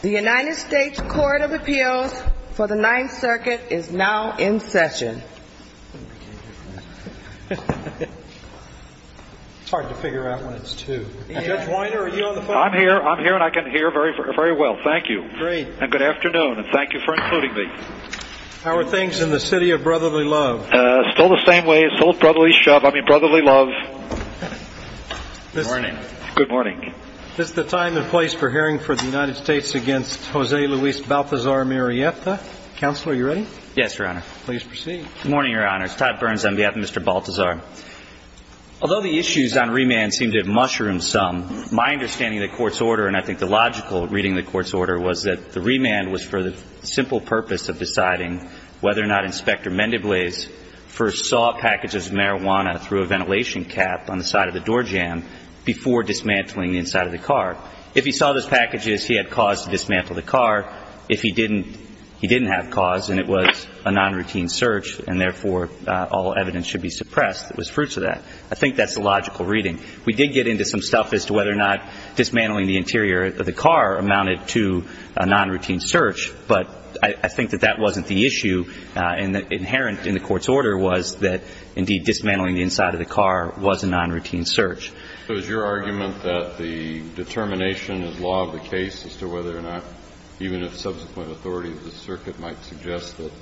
The United States Court of Appeals for the Ninth Circuit is now in session. It's hard to figure out when it's 2. Judge Weiner, are you on the phone? I'm here and I can hear very well, thank you. Great. And good afternoon and thank you for including me. How are things in the city of Brotherly Love? Still the same way, still Brotherly Love. Good morning. Good morning. This is the time and place for hearing for the United States against Jose Luis Baltazar-Murrieta. Counselor, are you ready? Yes, Your Honor. Please proceed. Good morning, Your Honors. Todd Burns on behalf of Mr. Baltazar. Although the issues on remand seem to have mushroomed some, my understanding of the Court's order and I think the logical reading of the Court's order was that the remand was for the simple purpose of deciding whether or not Inspector Mendebley first saw packages of marijuana through a ventilation cap on the side of the door jamb before dismantling the inside of the car. If he saw those packages, he had cause to dismantle the car. If he didn't, he didn't have cause and it was a non-routine search and therefore all evidence should be suppressed. It was fruits of that. I think that's the logical reading. We did get into some stuff as to whether or not dismantling the interior of the car amounted to a non-routine search, but I think that that wasn't the issue. Inherent in the Court's order was that, indeed, dismantling the inside of the car was a non-routine search. So is your argument that the determination as law of the case as to whether or not, even if subsequent authority of the circuit might suggest that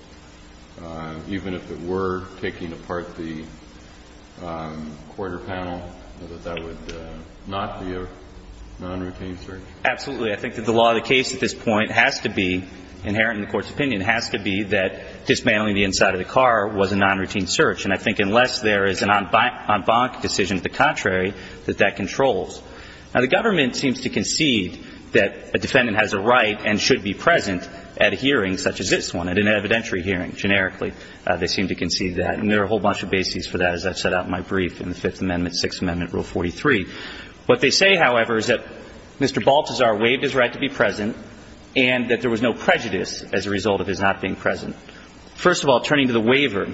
even if it were taking apart the quarter panel, that that would not be a non-routine search? Absolutely. I think that the law of the case at this point has to be, inherent in the Court's opinion, has to be that dismantling the inside of the car was a non-routine search, and I think unless there is an en banc decision to the contrary, that that controls. Now, the government seems to concede that a defendant has a right and should be present at a hearing such as this one, at an evidentiary hearing, generically. They seem to concede that, and there are a whole bunch of bases for that, as I've set out in my brief in the Fifth Amendment, Sixth Amendment, Rule 43. What they say, however, is that Mr. Baltazar waived his right to be present and that there was no prejudice as a result of his not being present. First of all, turning to the waiver.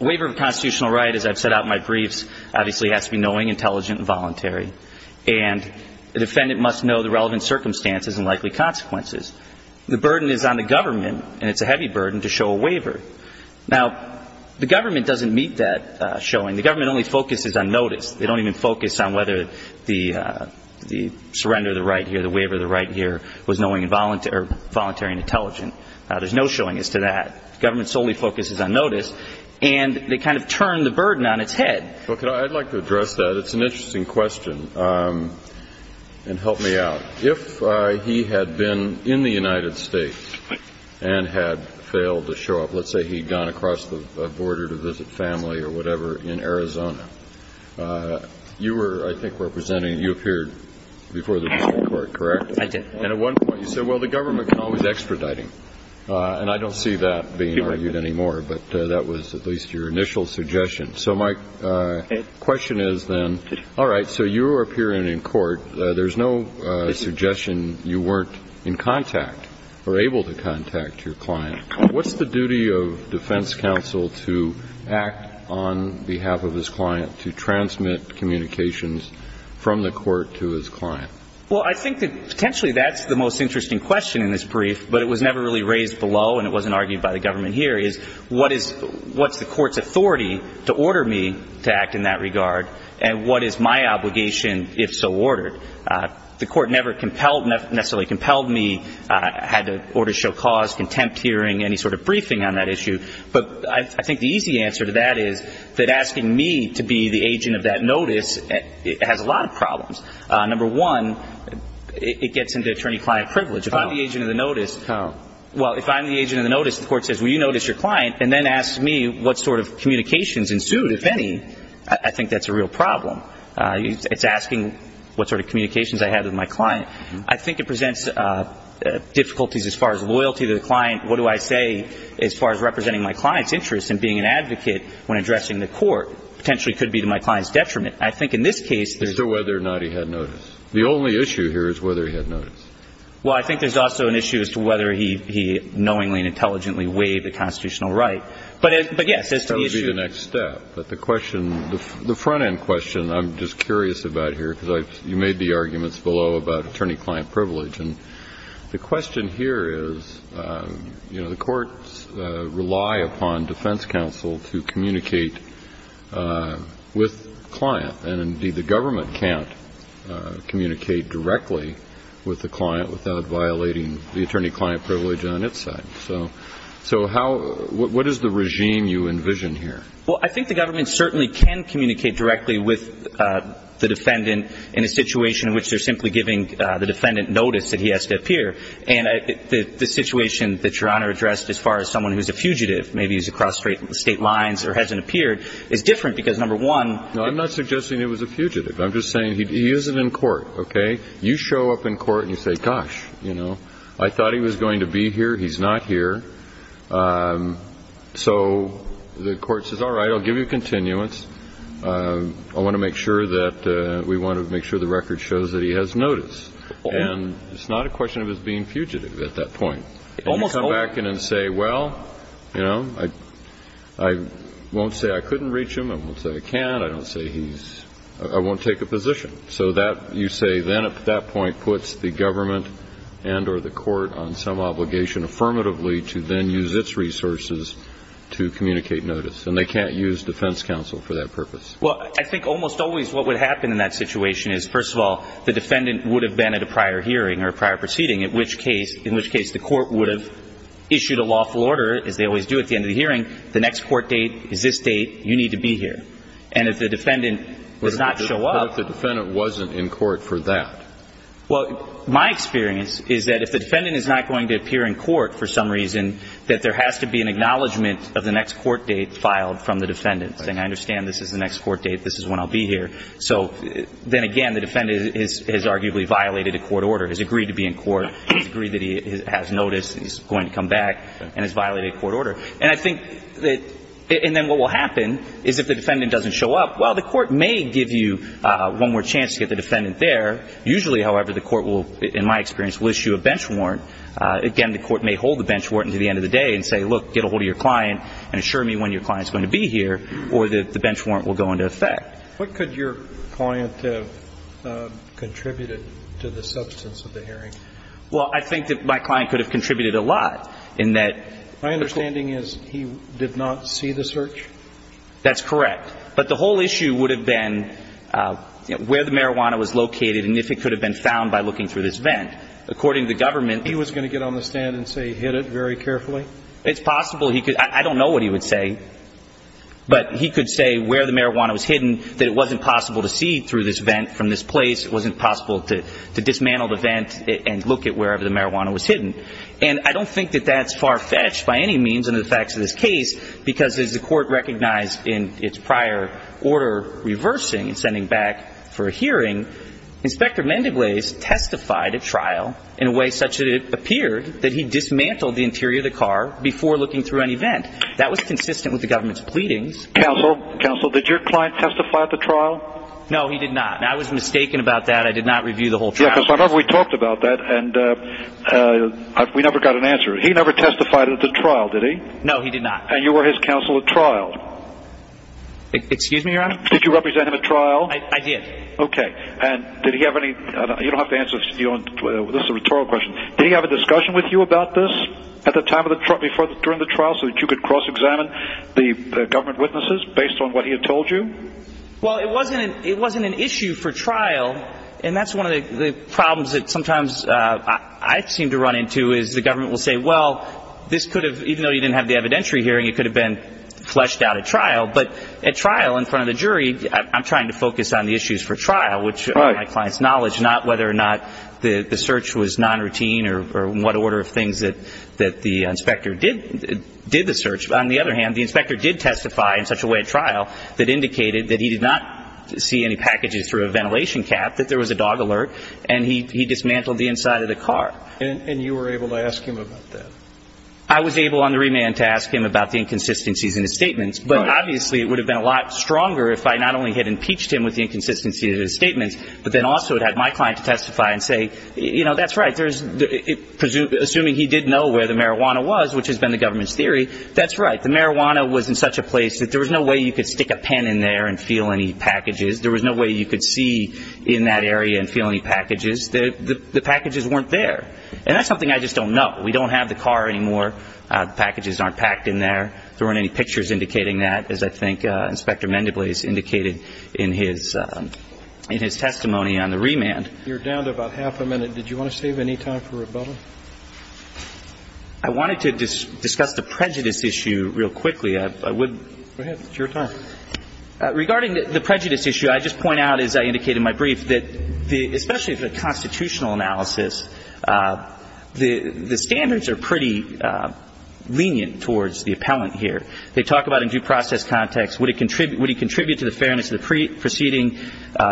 A waiver of a constitutional right, as I've set out in my briefs, obviously has to be knowing, intelligent, and voluntary, and the defendant must know the relevant circumstances and likely consequences. The burden is on the government, and it's a heavy burden to show a waiver. Now, the government doesn't meet that showing. The government only focuses on notice. They don't even focus on whether the surrender of the right here, the waiver of the right here, was knowing and voluntary and intelligent. There's no showing as to that. The government solely focuses on notice, and they kind of turn the burden on its head. I'd like to address that. It's an interesting question, and help me out. If he had been in the United States and had failed to show up, let's say he'd gone across the border to visit family or whatever in Arizona, you were, I think, representing, you appeared before the district court, correct? I did. And at one point you said, well, the government can always extradite him. And I don't see that being argued anymore, but that was at least your initial suggestion. So my question is then, all right, so you were appearing in court. There's no suggestion you weren't in contact or able to contact your client. What's the duty of defense counsel to act on behalf of his client, to transmit communications from the court to his client? Well, I think that potentially that's the most interesting question in this brief, but it was never really raised below and it wasn't argued by the government here, is what's the court's authority to order me to act in that regard, and what is my obligation if so ordered? The court never necessarily compelled me, had to order show cause, contempt hearing, any sort of briefing on that issue. But I think the easy answer to that is that asking me to be the agent of that notice has a lot of problems. Number one, it gets into attorney-client privilege. If I'm the agent of the notice, well, if I'm the agent of the notice, the court says, well, you notice your client, and then asks me what sort of communications ensued, if any, I think that's a real problem. It's asking what sort of communications I had with my client. I think it presents difficulties as far as loyalty to the client. What do I say as far as representing my client's interest in being an advocate when addressing the court? It potentially could be to my client's detriment. I think in this case there's... As to whether or not he had notice. The only issue here is whether he had notice. Well, I think there's also an issue as to whether he knowingly and intelligently waived the constitutional right. But, yes, as to the issue... The front-end question I'm just curious about here, because you made the arguments below about attorney-client privilege. And the question here is, you know, the courts rely upon defense counsel to communicate with the client. And, indeed, the government can't communicate directly with the client without violating the attorney-client privilege on its side. So what is the regime you envision here? Well, I think the government certainly can communicate directly with the defendant in a situation in which they're simply giving the defendant notice that he has to appear. And the situation that Your Honor addressed as far as someone who's a fugitive, maybe he's across state lines or hasn't appeared, is different because, number one... No, I'm not suggesting he was a fugitive. I'm just saying he isn't in court, okay? You show up in court and you say, gosh, you know, I thought he was going to be here. He's not here. So the court says, all right, I'll give you continuance. I want to make sure that we want to make sure the record shows that he has notice. And it's not a question of his being fugitive at that point. Almost always. And you come back in and say, well, you know, I won't say I couldn't reach him. I won't say I can't. I don't say he's – I won't take a position. So that – you say then at that point puts the government and or the court on some obligation affirmatively to then use its resources to communicate notice. And they can't use defense counsel for that purpose. Well, I think almost always what would happen in that situation is, first of all, the defendant would have been at a prior hearing or a prior proceeding, in which case the court would have issued a lawful order, as they always do at the end of the hearing. The next court date is this date. You need to be here. And if the defendant does not show up... What if the defendant wasn't in court for that? Well, my experience is that if the defendant is not going to appear in court for some reason, that there has to be an acknowledgement of the next court date filed from the defendant, saying I understand this is the next court date, this is when I'll be here. So then, again, the defendant has arguably violated a court order, has agreed to be in court, has agreed that he has notice, he's going to come back, and has violated a court order. And I think that – and then what will happen is if the defendant doesn't show up, well, the court may give you one more chance to get the defendant there. Usually, however, the court will, in my experience, will issue a bench warrant. Again, the court may hold the bench warrant until the end of the day and say, look, get a hold of your client and assure me when your client is going to be here, or the bench warrant will go into effect. What could your client have contributed to the substance of the hearing? Well, I think that my client could have contributed a lot in that... My understanding is he did not see the search? That's correct. But the whole issue would have been where the marijuana was located and if it could have been found by looking through this vent. According to the government... He was going to get on the stand and say he hid it very carefully? It's possible. I don't know what he would say, but he could say where the marijuana was hidden, that it wasn't possible to see through this vent from this place, it wasn't possible to dismantle the vent and look at wherever the marijuana was hidden. And I don't think that that's far-fetched by any means under the facts of this case because as the court recognized in its prior order reversing and sending back for a hearing, Inspector Mendeblaes testified at trial in a way such that it appeared that he dismantled the interior of the car before looking through any vent. That was consistent with the government's pleadings. Counsel, did your client testify at the trial? No, he did not. I was mistaken about that. I did not review the whole trial. Yes, because I remember we talked about that and we never got an answer. He never testified at the trial, did he? No, he did not. And you were his counsel at trial? Excuse me, Your Honor? Did you represent him at trial? I did. Okay. And did he have any, you don't have to answer, this is a rhetorical question, did he have a discussion with you about this at the time, during the trial, so that you could cross-examine the government witnesses based on what he had told you? Well, it wasn't an issue for trial, and that's one of the problems that sometimes I seem to run into is the government will say, well, this could have, even though you didn't have the evidentiary hearing, it could have been fleshed out at trial. But at trial, in front of the jury, I'm trying to focus on the issues for trial, which are my client's knowledge, not whether or not the search was non-routine or what order of things that the inspector did the search. On the other hand, the inspector did testify in such a way at trial that indicated that he did not see any packages through a ventilation cap, that there was a dog alert, and he dismantled the inside of the car. And you were able to ask him about that? I was able on the remand to ask him about the inconsistencies in his statements, but obviously it would have been a lot stronger if I not only had impeached him with the inconsistencies in his statements, but then also had had my client testify and say, you know, that's right, assuming he did know where the marijuana was, which has been the government's theory, that's right, the marijuana was in such a place that there was no way you could stick a pen in there and feel any packages. There was no way you could see in that area and feel any packages. The packages weren't there. And that's something I just don't know. We don't have the car anymore. The packages aren't packed in there. There weren't any pictures indicating that, as I think Inspector Mendebley has indicated in his testimony on the remand. You're down to about half a minute. Did you want to save any time for rebuttal? I wanted to discuss the prejudice issue real quickly. Go ahead. It's your time. Regarding the prejudice issue, I just point out, as I indicated in my brief, that especially the constitutional analysis, the standards are pretty lenient towards the appellant here. They talk about in due process context, would he contribute to the fairness of the proceeding?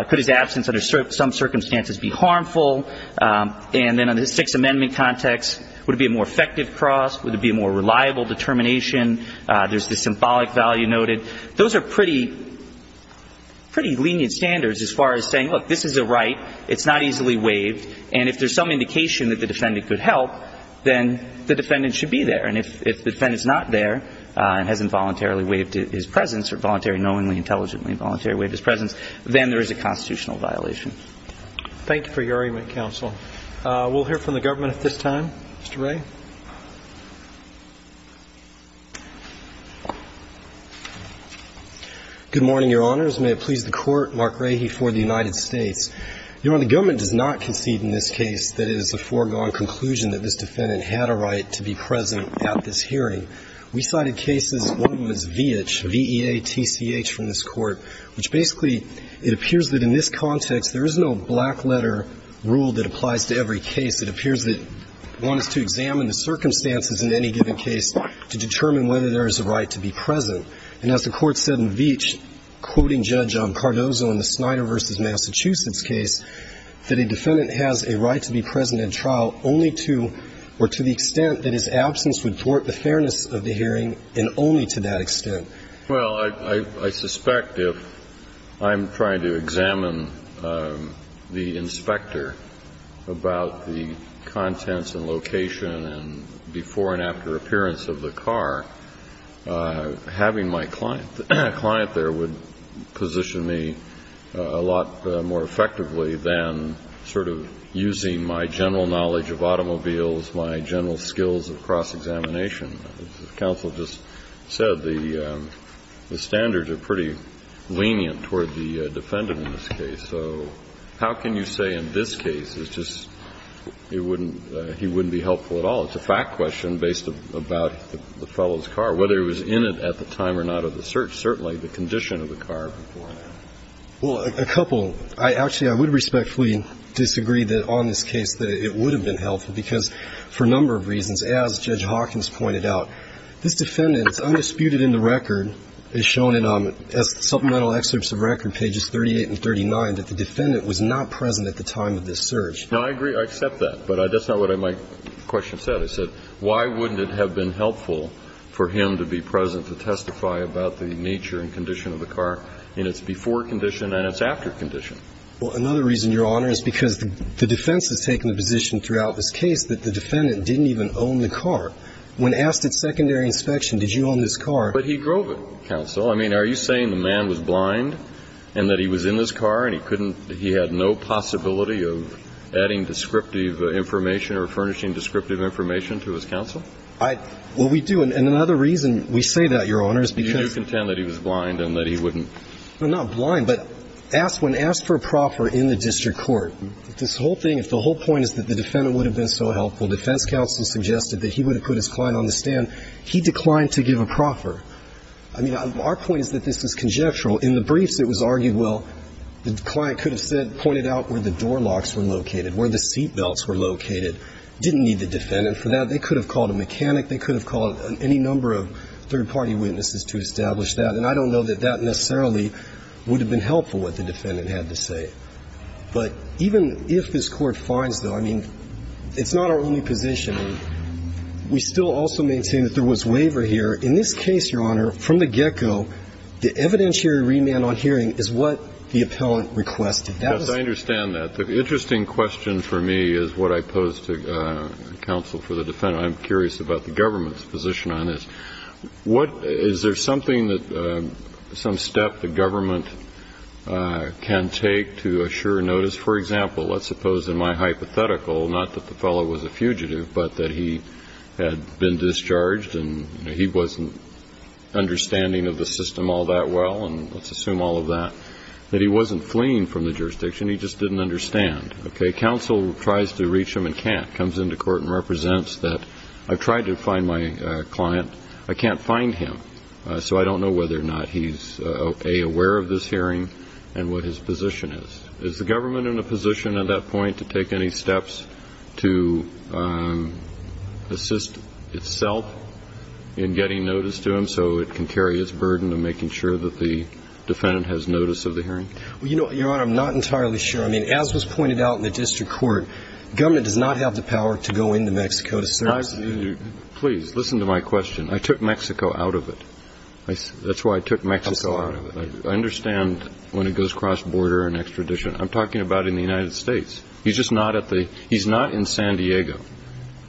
Could his absence under some circumstances be harmful? And then under the Sixth Amendment context, would it be a more effective cross? Would it be a more reliable determination? There's the symbolic value noted. Those are pretty lenient standards as far as saying, look, this is a right. It's not easily waived. And if there's some indication that the defendant could help, then the defendant should be there. And if the defendant's not there and has involuntarily waived his presence or voluntarily, knowingly, intelligently, involuntarily waived his presence, then there is a constitutional violation. Thank you for your argument, counsel. We'll hear from the government at this time. Mr. Ray. Good morning, Your Honors. May it please the Court. Mark Rahe for the United States. Your Honor, the government does not concede in this case that it is a foregone conclusion that this defendant had a right to be present at this hearing. We cited cases. One of them is Veach, V-E-A-T-C-H, from this Court, which basically it appears that in this context there is no black-letter rule that applies to every case. It appears that one is to examine the circumstances in any given case to determine whether there is a right to be present. And as the Court said in Veach, quoting Judge Cardozo in the Snyder v. Massachusetts case, that a defendant has a right to be present at trial only to or to the extent that his absence would thwart the fairness of the hearing and only to that extent. Well, I suspect if I'm trying to examine the inspector about the contents and location and before and after appearance of the car, having my client there would position me a lot more effectively than sort of using my general knowledge of automobiles, my general skills of cross-examination. As the counsel just said, the standards are pretty lenient toward the defendant in this case. So how can you say in this case it's just it wouldn't be helpful at all? It's a fact question based about the fellow's car, whether he was in it at the time or not of the search, certainly the condition of the car before and after. Well, a couple. Actually, I would respectfully disagree that on this case that it would have been helpful because for a number of reasons, as Judge Hawkins pointed out, this defendant is undisputed in the record as shown in supplemental excerpts of record, pages 38 and 39, that the defendant was not present at the time of this search. No, I agree. I accept that. But that's not what my question said. I said, why wouldn't it have been helpful for him to be present to testify about the nature and condition of the car in its before condition and its after condition? Well, another reason, Your Honor, is because the defense has taken the position throughout this case that the defendant didn't even own the car. When asked at secondary inspection, did you own this car? But he drove it, counsel. I mean, are you saying the man was blind and that he was in his car and he couldn't – he had no possibility of adding descriptive information or furnishing descriptive information to his counsel? Well, we do. And another reason we say that, Your Honor, is because – You do contend that he was blind and that he wouldn't – Not blind, but when asked for a proffer in the district court, this whole thing, if the whole point is that the defendant would have been so helpful, defense counsel suggested that he would have put his client on the stand, he declined to give a proffer. I mean, our point is that this is conjectural. In the briefs, it was argued, well, the client could have said – pointed out where the door locks were located, where the seat belts were located. Didn't need the defendant for that. They could have called a mechanic. They could have called any number of third-party witnesses to establish that. And I don't know that that necessarily would have been helpful, what the defendant had to say. But even if this Court finds, though, I mean, it's not our only position. We still also maintain that there was waiver here. In this case, Your Honor, from the get-go, the evidentiary remand on hearing is what the appellant requested. That is – Yes, I understand that. The interesting question for me is what I pose to counsel for the defendant. I'm curious about the government's position on this. What – is there something that – some step the government can take to assure notice? For example, let's suppose in my hypothetical, not that the fellow was a fugitive, but that he had been discharged and he wasn't understanding of the system all that well, and let's assume all of that, that he wasn't fleeing from the jurisdiction. He just didn't understand. Okay? Counsel tries to reach him and can't. represents that I've tried to find my client. I can't find him, so I don't know whether or not he's, A, aware of this hearing and what his position is. Is the government in a position at that point to take any steps to assist itself in getting notice to him so it can carry its burden of making sure that the defendant has notice of the hearing? Well, Your Honor, I'm not entirely sure. I mean, as was pointed out in the district court, government does not have the power to go into Mexico to serve. Please, listen to my question. I took Mexico out of it. That's why I took Mexico out of it. I understand when it goes cross-border and extradition. I'm talking about in the United States. He's just not at the – he's not in San Diego.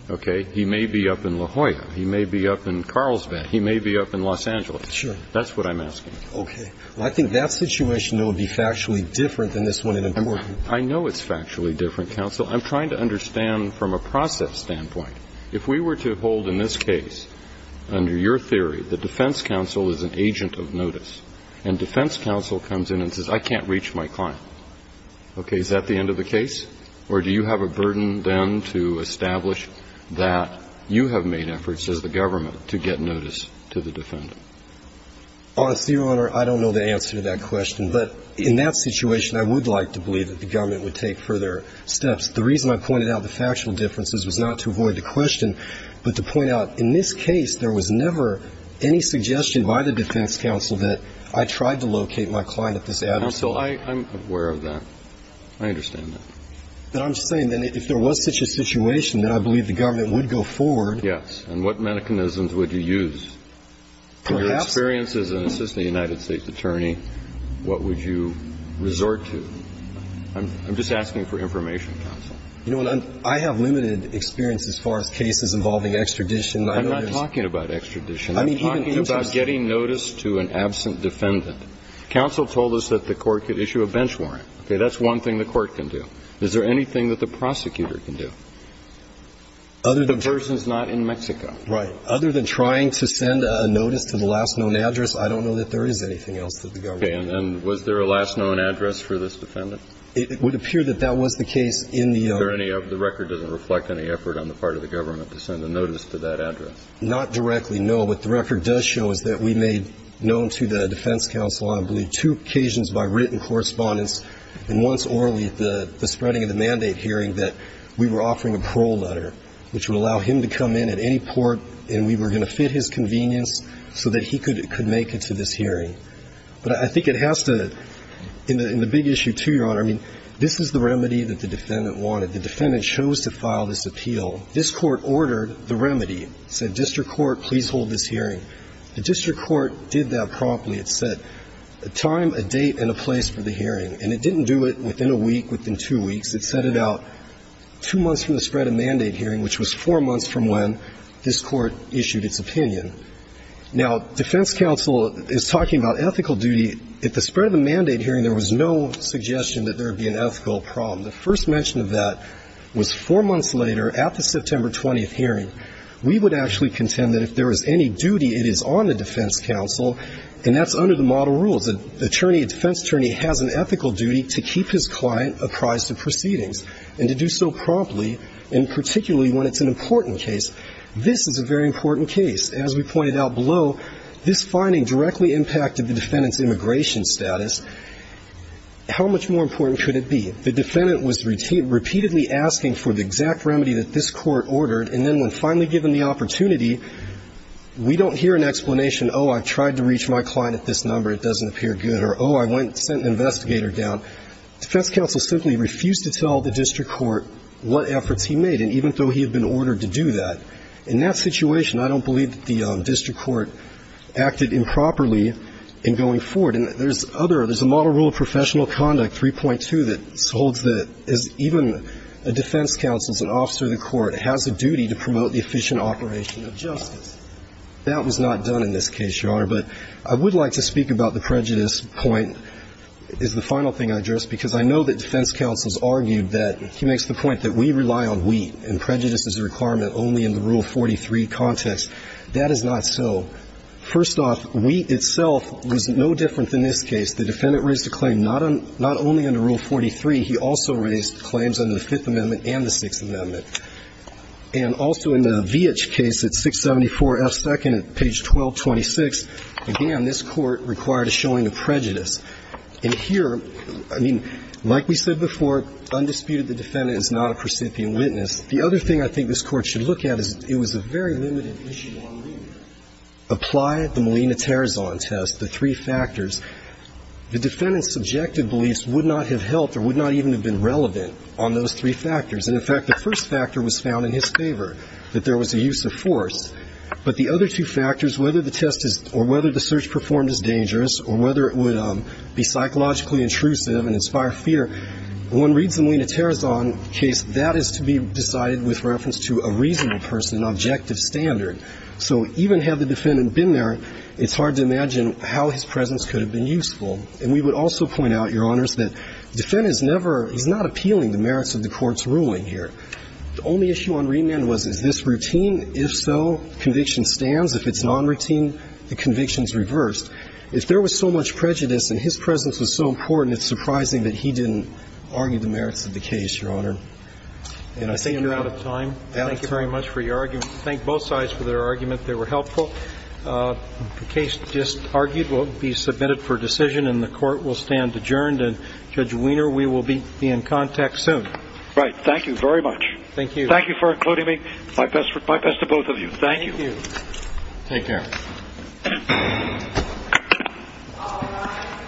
Okay? He may be up in La Jolla. He may be up in Carlsbad. He may be up in Los Angeles. Sure. That's what I'm asking. Okay. Well, I think that situation, though, would be factually different than this one in America. I know it's factually different, counsel. I'm trying to understand from a process standpoint. If we were to hold in this case, under your theory, the defense counsel is an agent of notice, and defense counsel comes in and says, I can't reach my client, okay, is that the end of the case? Or do you have a burden then to establish that you have made efforts as the government to get notice to the defendant? Honestly, Your Honor, I don't know the answer to that question. But in that situation, I would like to believe that the government would take further steps. The reason I pointed out the factual differences was not to avoid the question, but to point out, in this case, there was never any suggestion by the defense counsel that I tried to locate my client at this address. Counsel, I'm aware of that. I understand that. But I'm just saying that if there was such a situation, then I believe the government would go forward. And what mechanisms would you use? In your experience as an assistant United States attorney, what would you resort to? I'm just asking for information, counsel. You know what? I have limited experience as far as cases involving extradition. I'm not talking about extradition. I'm talking about getting notice to an absent defendant. Counsel told us that the court could issue a bench warrant. Okay? That's one thing the court can do. Is there anything that the prosecutor can do? The person is not in Mexico. Right. Other than trying to send a notice to the last known address, I don't know that there is anything else that the government can do. Okay. And was there a last known address for this defendant? It would appear that that was the case in the other. Is there any of the record doesn't reflect any effort on the part of the government to send a notice to that address? Not directly, no. What the record does show is that we made known to the defense counsel, I believe, two occasions by written correspondence and once orally the spreading of the mandate hearing that we were offering a parole letter, which would allow him to come in at any We were going to get his support and we were going to fit his convenience so that he could make it to this hearing. But I think it has to, in the big issue too, Your Honor, I mean, this is the remedy that the defendant wanted. The defendant chose to file this appeal. This Court ordered the remedy. It said district court, please hold this hearing. The district court did that promptly. It said a time, a date, and a place for the hearing. And it didn't do it within a week, within two weeks. It sent it out two months from the spread of mandate hearing, which was four months from when this Court issued its opinion. Now, defense counsel is talking about ethical duty. At the spread of the mandate hearing, there was no suggestion that there would be an ethical problem. The first mention of that was four months later at the September 20th hearing. We would actually contend that if there was any duty, it is on the defense counsel, and that's under the model rules. Now, as a defense attorney has an ethical duty to keep his client apprised of proceedings and to do so promptly and particularly when it's an important case. This is a very important case. As we pointed out below, this finding directly impacted the defendant's immigration status. How much more important could it be? The defendant was repeatedly asking for the exact remedy that this Court ordered, and then when finally given the opportunity, we don't hear an explanation, oh, I tried to reach my client at this number. It doesn't appear good. Or, oh, I went and sent an investigator down. Defense counsel simply refused to tell the district court what efforts he made, and even though he had been ordered to do that. In that situation, I don't believe that the district court acted improperly in going forward. And there's other, there's a model rule of professional conduct, 3.2, that holds that even a defense counsel, as an officer of the court, has a duty to promote the efficient operation of justice. That was not done in this case, Your Honor, but I would like to speak about the prejudice point, is the final thing I addressed, because I know that defense counsels argued that, he makes the point that we rely on wheat, and prejudice is a requirement only in the Rule 43 context. That is not so. First off, wheat itself was no different than this case. The defendant raised a claim not only under Rule 43, he also raised claims under the Fifth Amendment and the Sixth Amendment. And also in the Vietch case at 674 F. 2nd, page 1226, again, this Court required a showing of prejudice. And here, I mean, like we said before, undisputed, the defendant is not a percipient witness. The other thing I think this Court should look at is it was a very limited issue on wheat. Apply the Molina-Terrazon test, the three factors. The defendant's subjective beliefs would not have helped or would not even have been relevant on those three factors. And, in fact, the first factor was found in his favor, that there was a use of force. But the other two factors, whether the test is, or whether the search performed is dangerous, or whether it would be psychologically intrusive and inspire fear, one reads the Molina-Terrazon case, that is to be decided with reference to a reasonable person, an objective standard. So even had the defendant been there, it's hard to imagine how his presence could have been useful. And we would also point out, Your Honors, that the defendant is never, he's not appealing to the merits of the Court's ruling here. The only issue on remand was, is this routine? If so, conviction stands. If it's non-routine, the conviction is reversed. If there was so much prejudice and his presence was so important, it's surprising that he didn't argue the merits of the case, Your Honor. And I think you're out of time. Thank you very much for your argument. Thank both sides for their argument. They were helpful. The case just argued will be submitted for decision and the Court will stand adjourned. And Judge Wiener, we will be in contact soon. Right. Thank you very much. Thank you. Thank you for including me. My best to both of you. Thank you. Thank you. Take care. All rise.